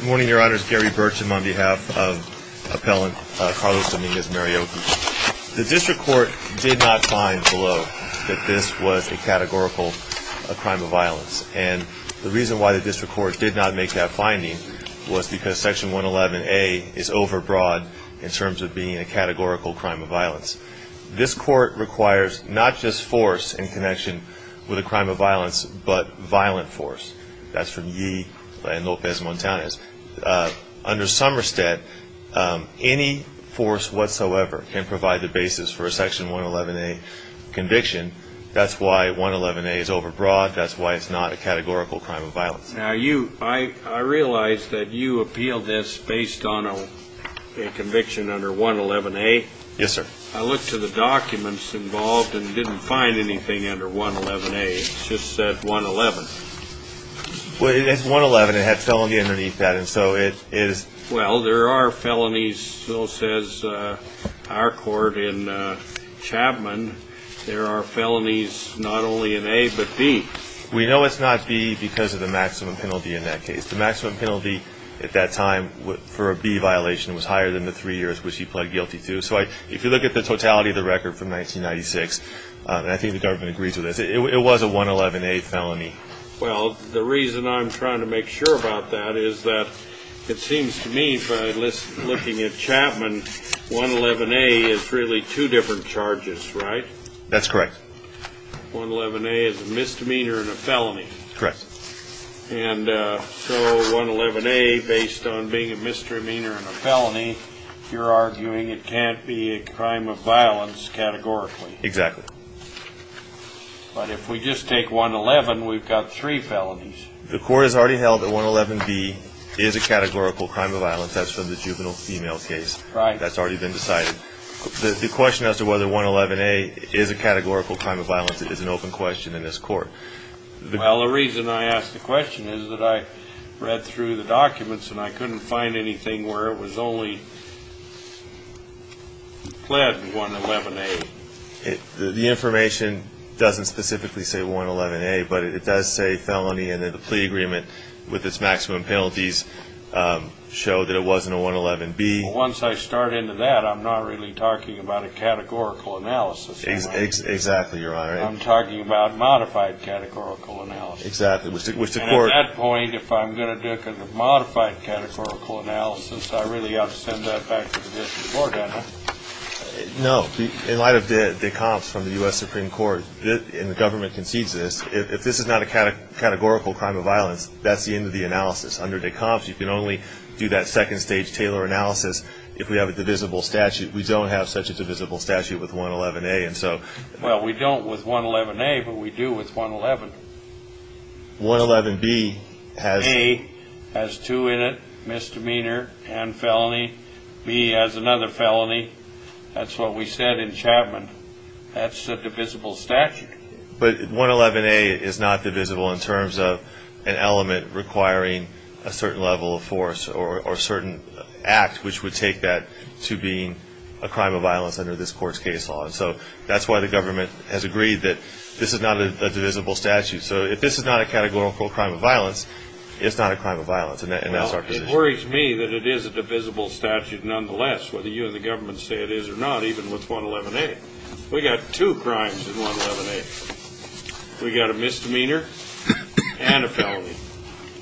The District Court did not find below that this was a categorical crime of violence, and the reason why the District Court did not make that finding was because Section 111A is overbroad in terms of being a categorical crime of violence. This Court requires not just force in connection with a crime of violence, but violent force. That's from Ye and Lopez Montanez. Under Somerset, any force whatsoever can provide the basis for a Section 111A conviction. That's why 111A is overbroad. That's why it's not a categorical crime of violence. Now, I realize that you appealed this based on a conviction under 111A. Yes, sir. I looked to the documents involved and didn't find anything under 111A. It just said 111. Well, it's 111. It had felony underneath that, and so it is... Well, there are felonies, so says our court in Chapman. There are felonies not only in A, but B. We know it's not B because of the maximum penalty in that case. The maximum penalty at that time for a B violation was higher than the three years which he pled guilty to, so if you look at the totality of the record from 1996, and I think the government agrees with this, it was a 111A felony. Well, the reason I'm trying to make sure about that is that it seems to me, looking at Chapman, 111A is really two different charges, right? That's correct. 111A is a misdemeanor and a felony. Correct. And so 111A, based on being a misdemeanor and a felony, you're arguing it can't be a crime of violence categorically. Exactly. But if we just take 111, we've got three felonies. The court has already held that 111B is a categorical crime of violence. That's from the juvenile female case. Right. That's already been decided. The question as to whether 111A is a categorical crime of violence is an open question in this court. Well, the reason I ask the question is that I read through the documents and I couldn't find anything where it was only pled 111A. The information doesn't specifically say 111A, but it does say felony, and then the plea agreement with its maximum penalties show that it wasn't a 111B. Well, once I start into that, I'm not really talking about a categorical analysis. Exactly, Your Honor. I'm talking about modified categorical analysis. Exactly. And at that point, if I'm going to do a modified categorical analysis, I really ought to send that back to the district court, don't I? No. In light of de Compte's from the U.S. Supreme Court, and the government concedes this, if this is not a categorical crime of violence, that's the end of the analysis. Under de Compte's, you can only do that second-stage Taylor analysis if we have a divisible statute. We don't have such a divisible statute with 111A. Well, we don't with 111A, but we do with 111. 111B has... A has two in it, misdemeanor and felony. B has another felony. That's what we said in Chapman. That's a divisible statute. But 111A is not divisible in terms of an element requiring a certain level of force or certain act which would take that to being a crime of violence under this court's case law. And so that's why the government has agreed that this is not a divisible statute. So if this is not a categorical crime of violence, it's not a crime of violence, and that's our position. Well, it worries me that it is a divisible statute nonetheless, whether you and the government say it is or not, even with 111A. We've got two crimes with 111A. We've got a misdemeanor and a felony.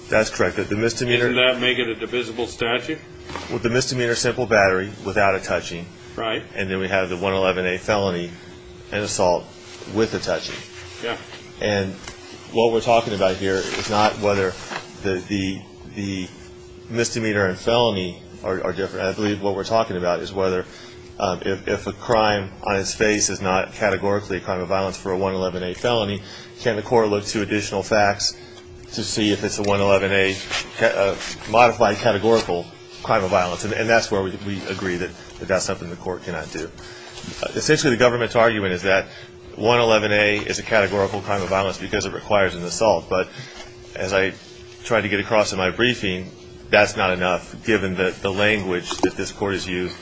That's correct. Doesn't that make it a divisible statute? With the misdemeanor, simple battery without a touching. Right. And then we have the 111A felony and assault with a touching. Yeah. And what we're talking about here is not whether the misdemeanor and felony are different. I believe what we're talking about is whether if a crime on its face is not categorically a crime of violence for a 111A felony, can the court look to additional facts to see if it's a 111A modified categorical crime of violence? And that's where we agree that that's something the court cannot do. Essentially, the government's argument is that 111A is a categorical crime of violence because it requires an assault. But as I tried to get across in my briefing, that's not enough given the language that this Court has used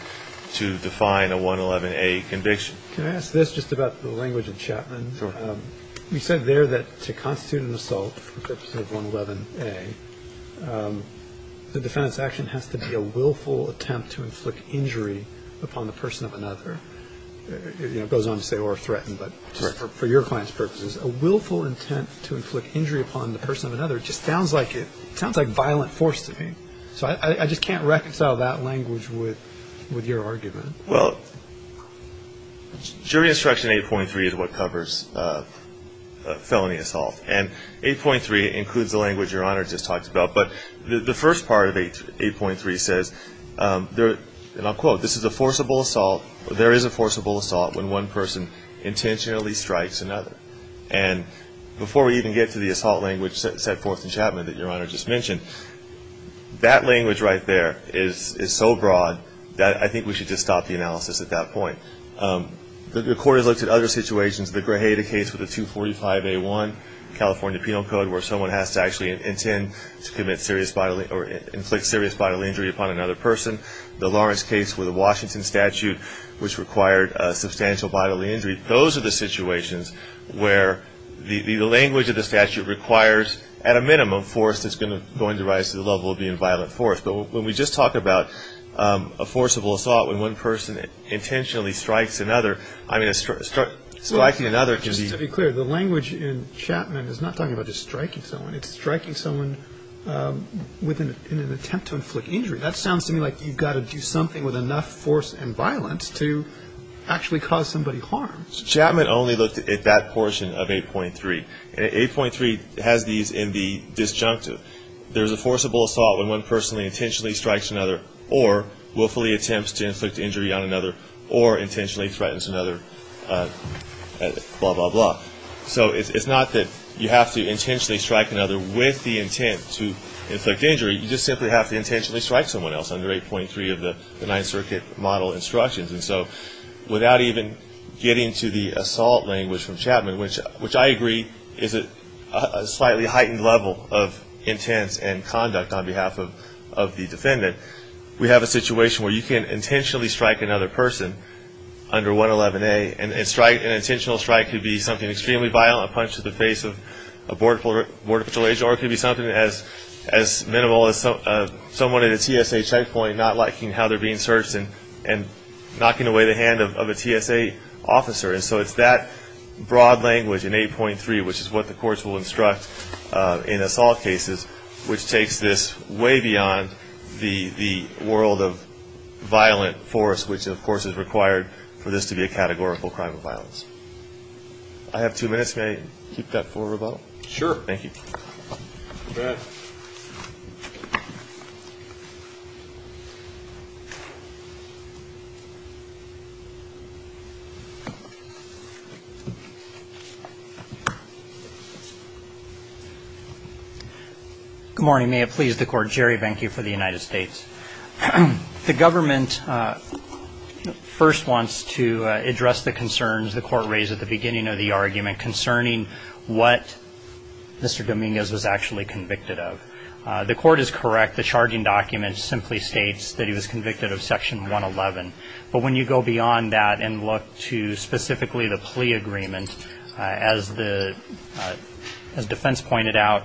to define a 111A conviction. Can I ask this just about the language in Chapman? Sure. You said there that to constitute an assault for the purpose of 111A, the defendant's action has to be a willful attempt to inflict injury upon the person of another. It goes on to say or threaten, but for your client's purposes, a willful intent to inflict injury upon the person of another just sounds like violent force to me. So I just can't reconcile that language with your argument. Well, jury instruction 8.3 is what covers felony assault. And 8.3 includes the language Your Honor just talked about. But the first part of 8.3 says, and I'll quote, there is a forcible assault when one person intentionally strikes another. And before we even get to the assault language set forth in Chapman that Your Honor just mentioned, that language right there is so broad that I think we should just stop the analysis at that point. The Court has looked at other situations. The Grajeda case with the 245A1, California Penal Code, where someone has to actually intend to commit serious bodily or inflict serious bodily injury upon another person. The Lawrence case with the Washington statute, which required substantial bodily injury. Those are the situations where the language of the statute requires, at a minimum, force that's going to rise to the level of being violent force. But when we just talk about a forcible assault when one person intentionally strikes another, I mean, striking another can be. Just to be clear, the language in Chapman is not talking about just striking someone. It's striking someone in an attempt to inflict injury. That sounds to me like you've got to do something with enough force and violence to actually cause somebody harm. Chapman only looked at that portion of 8.3. And 8.3 has these in the disjunctive. There is a forcible assault when one person intentionally strikes another or willfully attempts to inflict injury on another or intentionally threatens another, blah, blah, blah. So it's not that you have to intentionally strike another with the intent to inflict injury. You just simply have to intentionally strike someone else under 8.3 of the Ninth Circuit model instructions. And so without even getting to the assault language from Chapman, which I agree is a slightly heightened level of intent and conduct on behalf of the defendant, we have a situation where you can intentionally strike another person under 111A. And an intentional strike could be something extremely violent, a punch to the face of a Border Patrol agent, or it could be something as minimal as someone at a TSA checkpoint not liking how they're being searched and knocking away the hand of a TSA officer. And so it's that broad language in 8.3, which is what the courts will instruct in assault cases, which takes this way beyond the world of violent force, which, of course, is required for this to be a categorical crime of violence. I have two minutes. May I keep that for rebuttal? Sure. Thank you. Good morning. May it please the Court. Jerry Benke for the United States. The government first wants to address the concerns the Court raised at the beginning of the argument concerning what Mr. Dominguez was actually convicted of. The Court is correct. The charging document simply states that he was convicted of Section 111. But when you go beyond that and look to specifically the plea agreement, as the defense pointed out,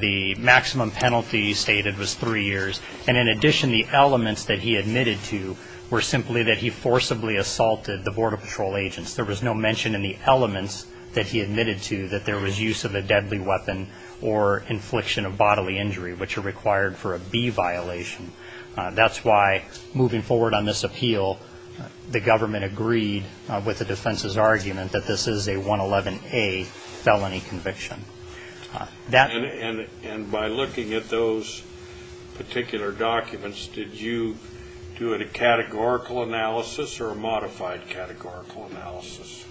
the maximum penalty stated was three years. And in addition, the elements that he admitted to were simply that he forcibly assaulted the Border Patrol agents. There was no mention in the elements that he admitted to that there was use of a deadly weapon or infliction of bodily injury, which are required for a B violation. That's why, moving forward on this appeal, the government agreed with the defense's argument that this is a 111A felony conviction. And by looking at those particular documents, did you do it a categorical analysis or a modified categorical analysis?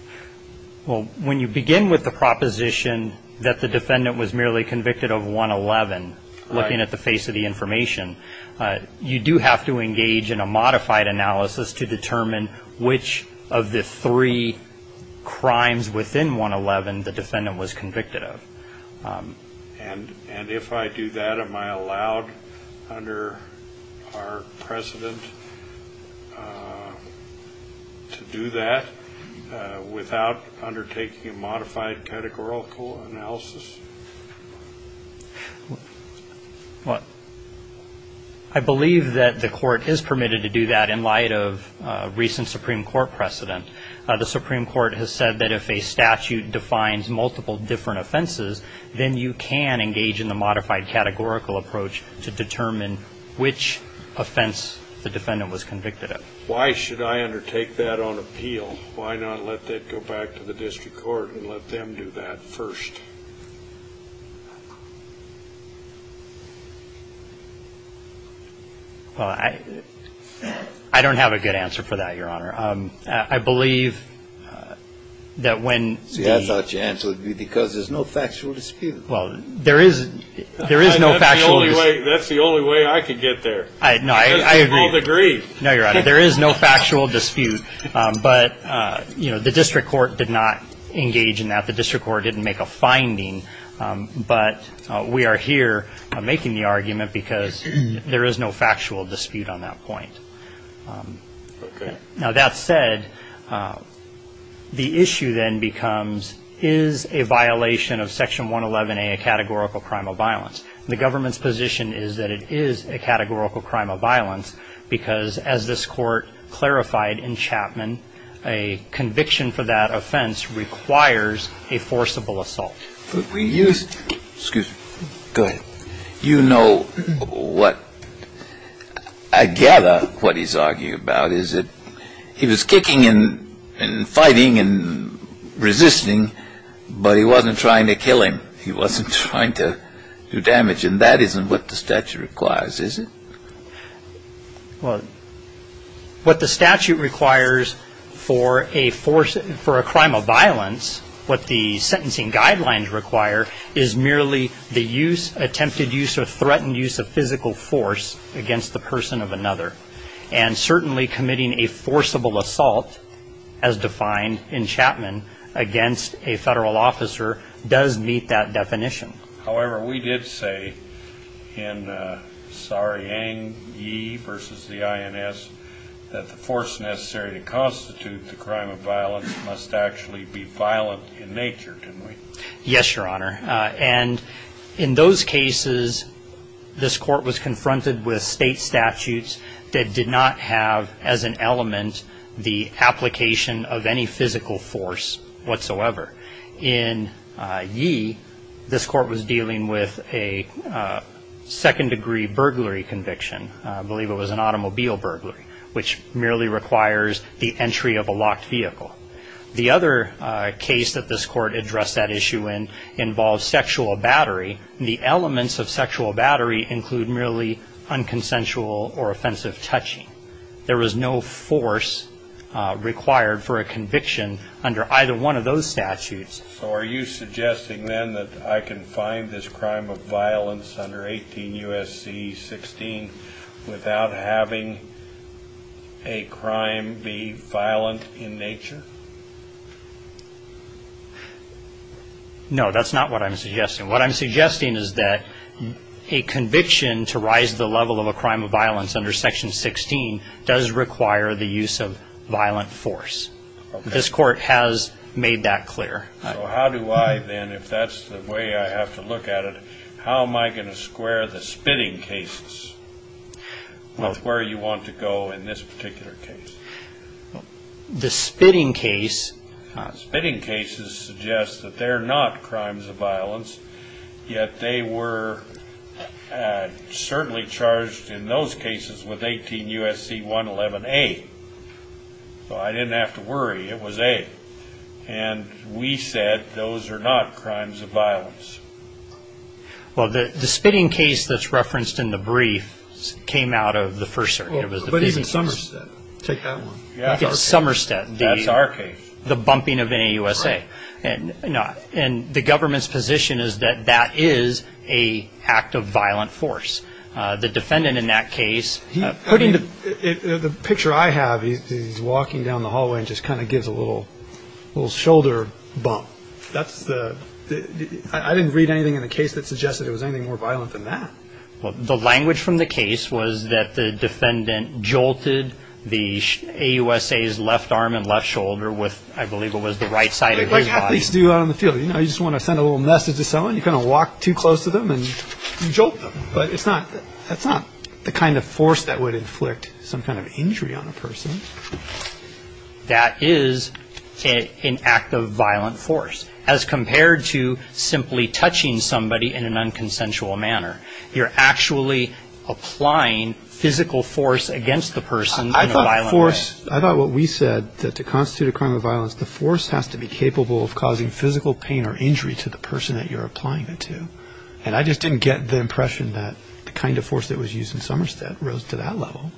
Well, when you begin with the proposition that the defendant was merely convicted of 111, looking at the face of the information, you do have to engage in a modified analysis to determine which of the three crimes within 111 the defendant was convicted of. And if I do that, am I allowed under our precedent to do that without undertaking a modified categorical analysis? What? I believe that the court is permitted to do that in light of recent Supreme Court precedent. The Supreme Court has said that if a statute defines multiple different offenses, then you can engage in the modified categorical approach to determine which offense the defendant was convicted of. Why should I undertake that on appeal? Why not let that go back to the district court and let them do that first? Well, I don't have a good answer for that, Your Honor. I believe that when the- See, I thought your answer would be because there's no factual dispute. Well, there is no factual dispute. That's the only way I could get there. We both agree. No, Your Honor. There is no factual dispute. But, you know, the district court did not engage in that. The district court didn't make a finding. But we are here making the argument because there is no factual dispute on that point. Okay. Now, that said, the issue then becomes, is a violation of Section 111A a categorical crime of violence? The government's position is that it is a categorical crime of violence because, as this Court clarified in Chapman, a conviction for that offense requires a forcible assault. But we used- Excuse me. Go ahead. You know what- I gather what he's arguing about is that he was kicking and fighting and resisting, but he wasn't trying to kill him. He wasn't trying to do damage. And that isn't what the statute requires, is it? Well, what the statute requires for a crime of violence, what the sentencing guidelines require, is merely the use, attempted use, or threatened use of physical force against the person of another. And certainly committing a forcible assault, as defined in Chapman, against a federal officer does meet that definition. However, we did say in Sariang Yi versus the INS that the force necessary to constitute the crime of violence must actually be violent in nature, didn't we? Yes, Your Honor. And in those cases, this Court was confronted with state statutes that did not have as an element the application of any physical force whatsoever. In Yi, this Court was dealing with a second-degree burglary conviction. I believe it was an automobile burglary, which merely requires the entry of a locked vehicle. The other case that this Court addressed that issue in involves sexual battery. The elements of sexual battery include merely unconsensual or offensive touching. There was no force required for a conviction under either one of those statutes. So are you suggesting then that I can find this crime of violence under 18 U.S.C. 16 without having a crime be violent in nature? No, that's not what I'm suggesting. What I'm suggesting is that a conviction to rise to the level of a crime of violence under Section 16 does require the use of violent force. This Court has made that clear. So how do I then, if that's the way I have to look at it, how am I going to square the spitting cases with where you want to go in this particular case? The spitting case. Spitting cases suggest that they're not crimes of violence, yet they were certainly charged in those cases with 18 U.S.C. 111A. So I didn't have to worry. It was A. And we said those are not crimes of violence. Well, the spitting case that's referenced in the brief came out of the first circuit. But even Somerset. Take that one. Even Somerset. That's our case. The bumping of any U.S.A. And the government's position is that that is an act of violent force. The defendant in that case. The picture I have, he's walking down the hallway and just kind of gives a little shoulder bump. I didn't read anything in the case that suggested it was anything more violent than that. The language from the case was that the defendant jolted the AUSA's left arm and left shoulder with, I believe it was the right side of his body. Like athletes do out on the field. You know, you just want to send a little message to someone. You kind of walk too close to them and you jolt them. But it's not the kind of force that would inflict some kind of injury on a person. That is an act of violent force. As compared to simply touching somebody in an unconsensual manner. You're actually applying physical force against the person in a violent way. I thought force, I thought what we said, that to constitute a crime of violence, the force has to be capable of causing physical pain or injury to the person that you're applying it to. And I just didn't get the impression that the kind of force that was used in Somerset rose to that level.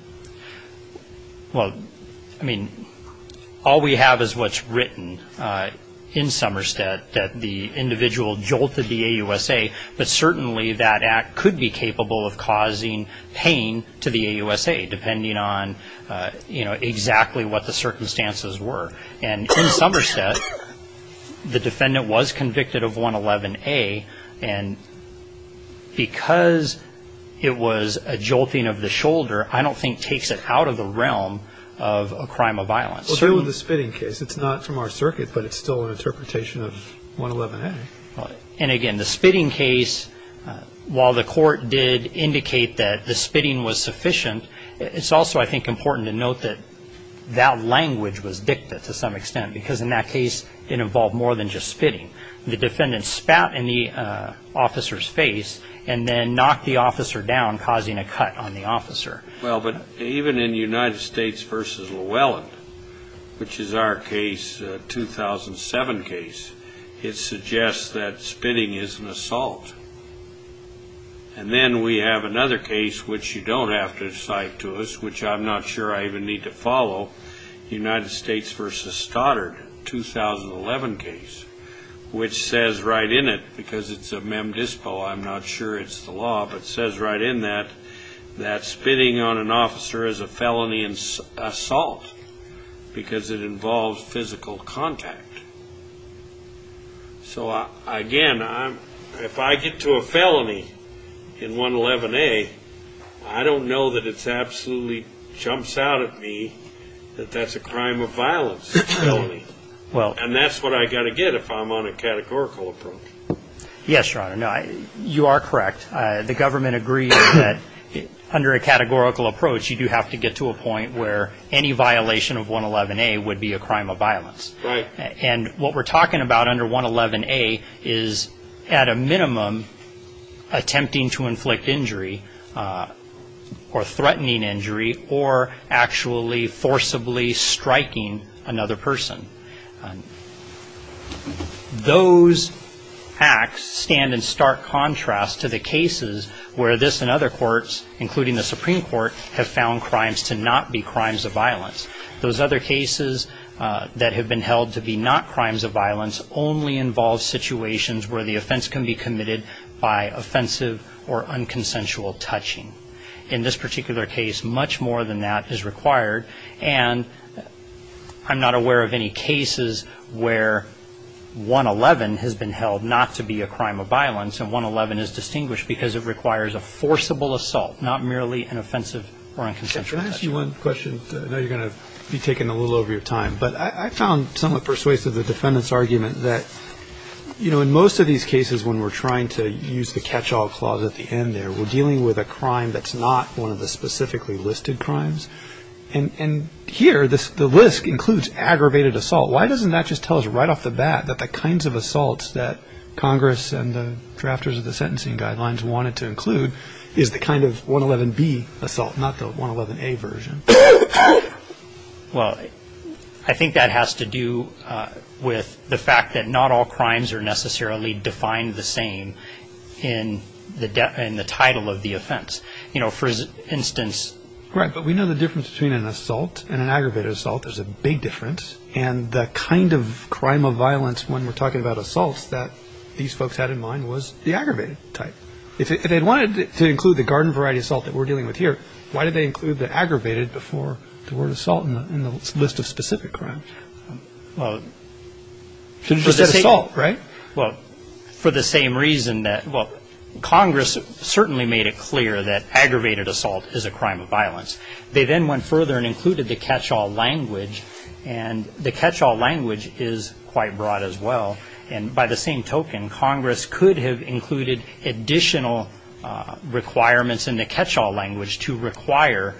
Well, I mean, all we have is what's written in Somerset that the individual jolted the AUSA, but certainly that act could be capable of causing pain to the AUSA, depending on, you know, exactly what the circumstances were. And in Somerset, the defendant was convicted of 111A. And because it was a jolting of the shoulder, I don't think takes it out of the realm of a crime of violence. Well, certainly with the spitting case. It's not from our circuit, but it's still an interpretation of 111A. And again, the spitting case, while the court did indicate that the spitting was sufficient, it's also, I think, important to note that that language was dicta to some extent, because in that case it involved more than just spitting. The defendant spat in the officer's face and then knocked the officer down, causing a cut on the officer. Well, but even in United States v. Llewellyn, which is our case, 2007 case, it suggests that spitting is an assault. And then we have another case, which you don't have to cite to us, which I'm not sure I even need to follow, United States v. Stoddard, 2011 case, which says right in it, because it's a mem dispo, I'm not sure it's the law, but it says right in that that spitting on an officer is a felony assault, because it involves physical contact. So again, if I get to a felony in 111A, I don't know that it absolutely jumps out at me that that's a crime of violence. And that's what I've got to get if I'm on a categorical approach. Yes, Your Honor, you are correct. The government agrees that under a categorical approach, you do have to get to a point where any violation of 111A would be a crime of violence. Right. And what we're talking about under 111A is at a minimum attempting to inflict injury or threatening injury or actually forcibly striking another person. Those acts stand in stark contrast to the cases where this and other courts, including the Supreme Court, Those other cases that have been held to be not crimes of violence only involve situations where the offense can be committed by offensive or unconsensual touching. In this particular case, much more than that is required. And I'm not aware of any cases where 111 has been held not to be a crime of violence, and 111 is distinguished because it requires a forcible assault, not merely an offensive or unconsensual touch. Can I ask you one question? I know you're going to be taking a little over your time, but I found somewhat persuasive the defendant's argument that, you know, in most of these cases when we're trying to use the catch-all clause at the end there, we're dealing with a crime that's not one of the specifically listed crimes. And here, the list includes aggravated assault. Why doesn't that just tell us right off the bat that the kinds of assaults that Congress and the drafters of the sentencing guidelines wanted to include is the kind of 111B assault, not the 111A version? Well, I think that has to do with the fact that not all crimes are necessarily defined the same in the title of the offense. You know, for instance. Right, but we know the difference between an assault and an aggravated assault. There's a big difference. And the kind of crime of violence when we're talking about assaults that these folks had in mind was the aggravated type. If they wanted to include the garden variety assault that we're dealing with here, why did they include the aggravated before the word assault in the list of specific crimes? Well, for the same reason that, well, Congress certainly made it clear that aggravated assault is a crime of violence. They then went further and included the catch-all language, and the catch-all language is quite broad as well. And by the same token, Congress could have included additional requirements in the catch-all language to require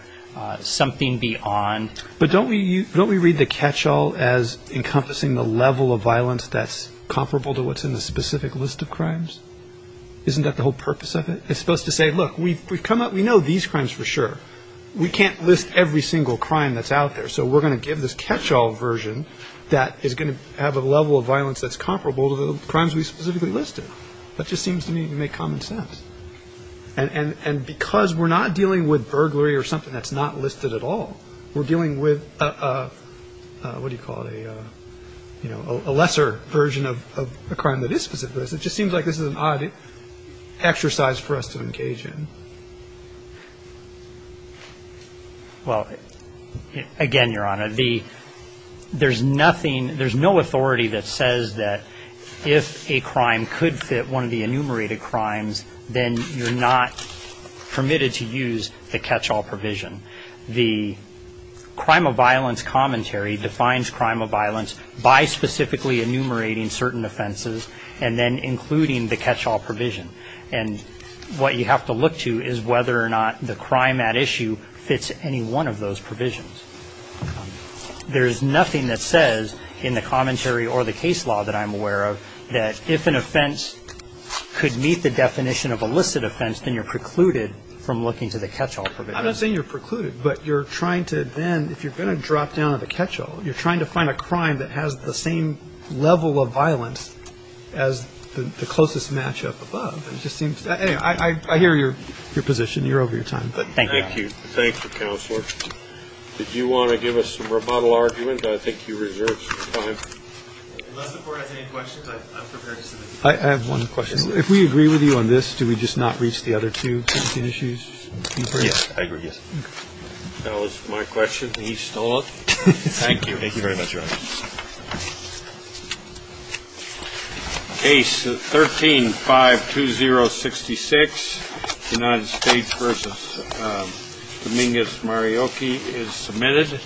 something beyond. But don't we read the catch-all as encompassing the level of violence that's comparable to what's in the specific list of crimes? Isn't that the whole purpose of it? It's supposed to say, look, we know these crimes for sure. We can't list every single crime that's out there, so we're going to give this catch-all version that is going to have a level of violence that's comparable to the crimes we specifically listed. That just seems to me to make common sense. And because we're not dealing with burglary or something that's not listed at all, we're dealing with, what do you call it, a lesser version of a crime that is specific. It just seems like this is an odd exercise for us to engage in. Well, again, Your Honor, there's nothing, there's no authority that says that if a crime could fit one of the enumerated crimes, then you're not permitted to use the catch-all provision. The crime of violence commentary defines crime of violence by specifically enumerating certain offenses and then including the catch-all provision. And what you have to look to is whether or not the crime at issue fits any one of those provisions. There's nothing that says in the commentary or the case law that I'm aware of that if an offense could meet the definition of illicit offense, then you're precluded from looking to the catch-all provision. I'm not saying you're precluded, but you're trying to then, if you're going to drop down to the catch-all, you're trying to find a crime that has the same level of violence as the closest match-up above. It just seems, anyway, I hear your position. You're over your time. Thank you. Thank you, Counselor. Did you want to give us some rebuttal argument? I think you reserved some time. Unless the Court has any questions, I'm prepared to submit. I have one question. If we agree with you on this, do we just not reach the other two issues? Yes, I agree, yes. That was my question, and he stole it. Thank you. Thank you very much, Your Honor. Case 13-52066, United States v. Dominguez-Mariocchi is submitted.